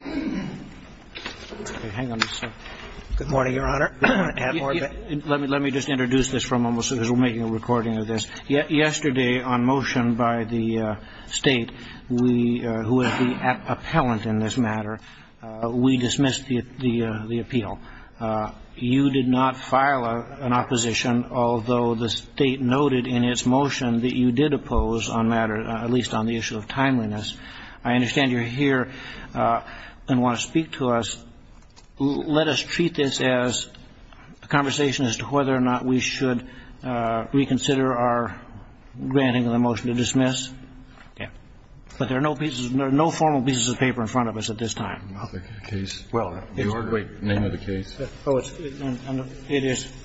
Good morning, Your Honor. Let me just introduce this because we're making a recording of this. Yesterday, on motion by the State, who is the appellant in this matter, we dismissed the appeal. You did not file an opposition, although the State noted in its motion that you did oppose on matter, at least on the issue of timeliness. I understand you're here and want to speak to us. Let us treat this as a conversation as to whether or not we should reconsider our granting of the motion to dismiss. But there are no formal pieces of paper in front of us at this time. The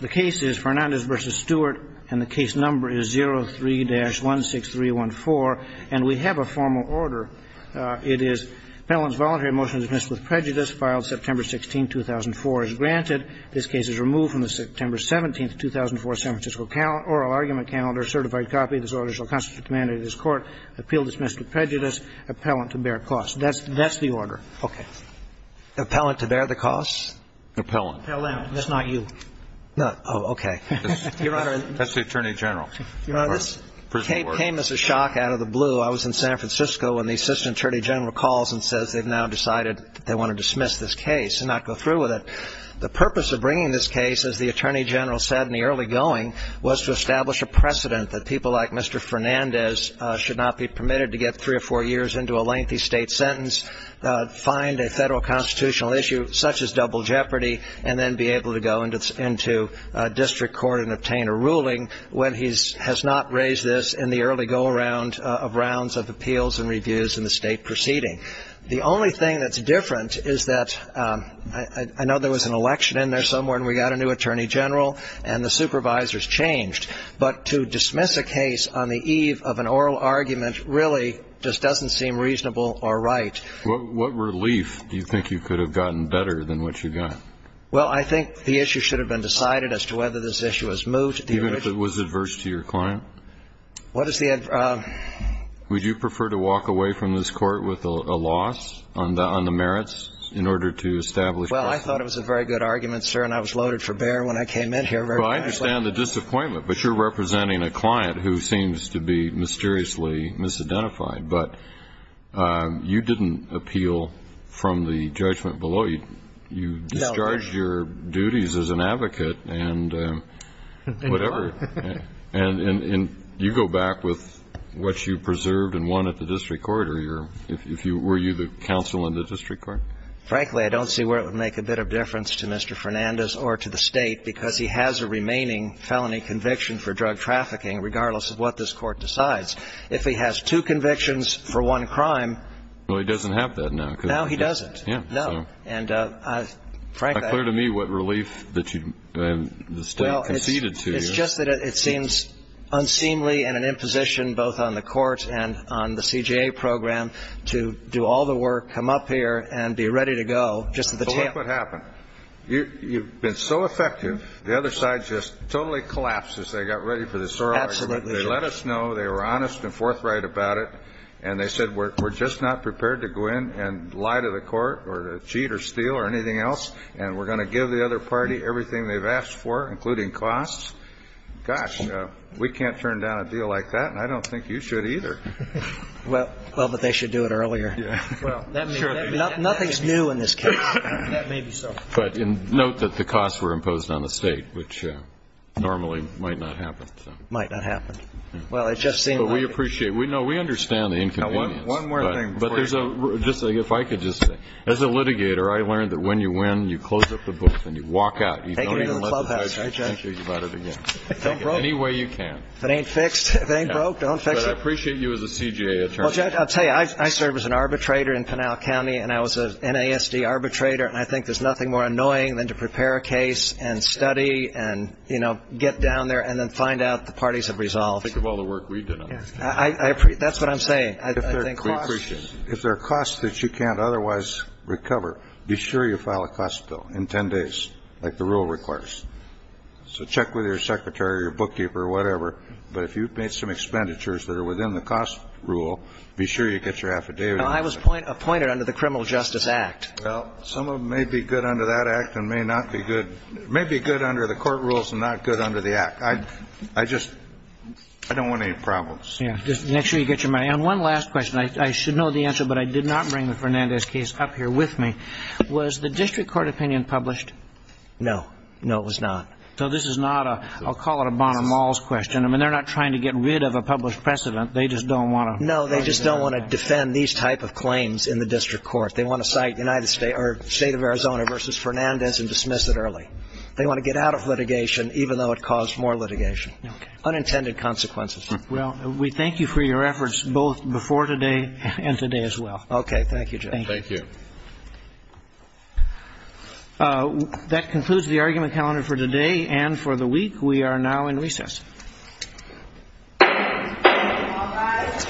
case is Fernandez v. Stewart, and the case number is 03-16314. And we have a formal order. It is appellant's voluntary motion dismissed with prejudice filed September 16, 2004 is granted. This case is removed from the September 17, 2004 San Francisco oral argument calendar, certified copy. This order shall constitute the mandate of this Court. Appeal dismissed with prejudice. Appellant to bear cause. That's the order. Okay. Appellant to bear the cause? Appellant. That's not you. Oh, okay. Your Honor. That's the Attorney General. Your Honor, this came as a shock out of the blue. I was in San Francisco when the Assistant Attorney General calls and says they've now decided they want to dismiss this case and not go through with it. The purpose of bringing this case, as the Attorney General said in the early going, was to establish a precedent that people like Mr. Fernandez should not be permitted to get three or four years into a lengthy state sentence, find a federal constitutional issue such as double jeopardy, and then be able to go into district court and obtain a ruling when he has not raised this in the early go-around of rounds of appeals and reviews in the state proceeding. The only thing that's different is that I know there was an election in there somewhere and we got a new Attorney General and the supervisors changed. But to dismiss a case on the eve of an oral argument really just doesn't seem reasonable or right. What relief do you think you could have gotten better than what you got? Well, I think the issue should have been decided as to whether this issue was moved. Even if it was adverse to your client? What is the adverse? Would you prefer to walk away from this court with a loss on the merits in order to establish precedent? Well, I thought it was a very good argument, sir, and I was loaded for bear when I came in here. Well, I understand the disappointment, but you're representing a client who seems to be mysteriously misidentified. But you didn't appeal from the judgment below. You discharged your duties as an advocate and whatever. And you go back with what you preserved and won at the district court, or were you the counsel in the district court? Frankly, I don't see where it would make a bit of difference to Mr. Fernandez or to the state because he has a remaining felony conviction for drug trafficking, regardless of what this court decides. If he has two convictions for one crime. Well, he doesn't have that now. No, he doesn't. No. And frankly. It's not clear to me what relief the state conceded to you. It's just that it seems unseemly and an imposition both on the court and on the CJA program to do all the work, come up here, and be ready to go just at the tip. So look what happened. You've been so effective, the other side just totally collapsed as they got ready for the sorority. Absolutely. They let us know. They were honest and forthright about it. And they said, we're just not prepared to go in and lie to the court or cheat or steal or anything else, and we're going to give the other party everything they've asked for, including costs. Gosh, we can't turn down a deal like that, and I don't think you should either. Well, but they should do it earlier. Well, that may be so. Nothing's new in this case. That may be so. But note that the costs were imposed on the state, which normally might not happen. Might not happen. Well, it just seemed like it. But we appreciate it. We know. We understand the inconvenience. Now, one more thing. Just if I could just say. As a litigator, I learned that when you win, you close up the book and you walk out. You don't even let the judge negotiate about it again. Take it any way you can. If it ain't fixed, if it ain't broke, don't fix it. But I appreciate you as a CJA attorney. Well, Judge, I'll tell you, I served as an arbitrator in Pinal County, and I was an NASD arbitrator, and I think there's nothing more annoying than to prepare a case and study and, you know, get down there and then find out the parties have resolved. Think of all the work we did on this case. That's what I'm saying. We appreciate it. If there are costs that you can't otherwise recover, be sure you file a cost bill in 10 days, like the rule requires. So check with your secretary or your bookkeeper or whatever. But if you've made some expenditures that are within the cost rule, be sure you get your affidavit. Now, I was appointed under the Criminal Justice Act. Well, some of them may be good under that Act and may not be good. It may be good under the court rules and not good under the Act. I just don't want any problems. Yeah. Just make sure you get your money. And one last question. I should know the answer, but I did not bring the Fernandez case up here with me. Was the district court opinion published? No. No, it was not. So this is not a, I'll call it a Bonner-Malls question. I mean, they're not trying to get rid of a published precedent. They just don't want to. No, they just don't want to defend these type of claims in the district court. They want to cite United States or State of Arizona versus Fernandez and dismiss it early. They want to get out of litigation even though it caused more litigation. Okay. Unintended consequences. Well, we thank you for your efforts both before today and today as well. Okay. Thank you, Judge. Thank you. That concludes the argument calendar for today and for the week. We are now in recess. All rise.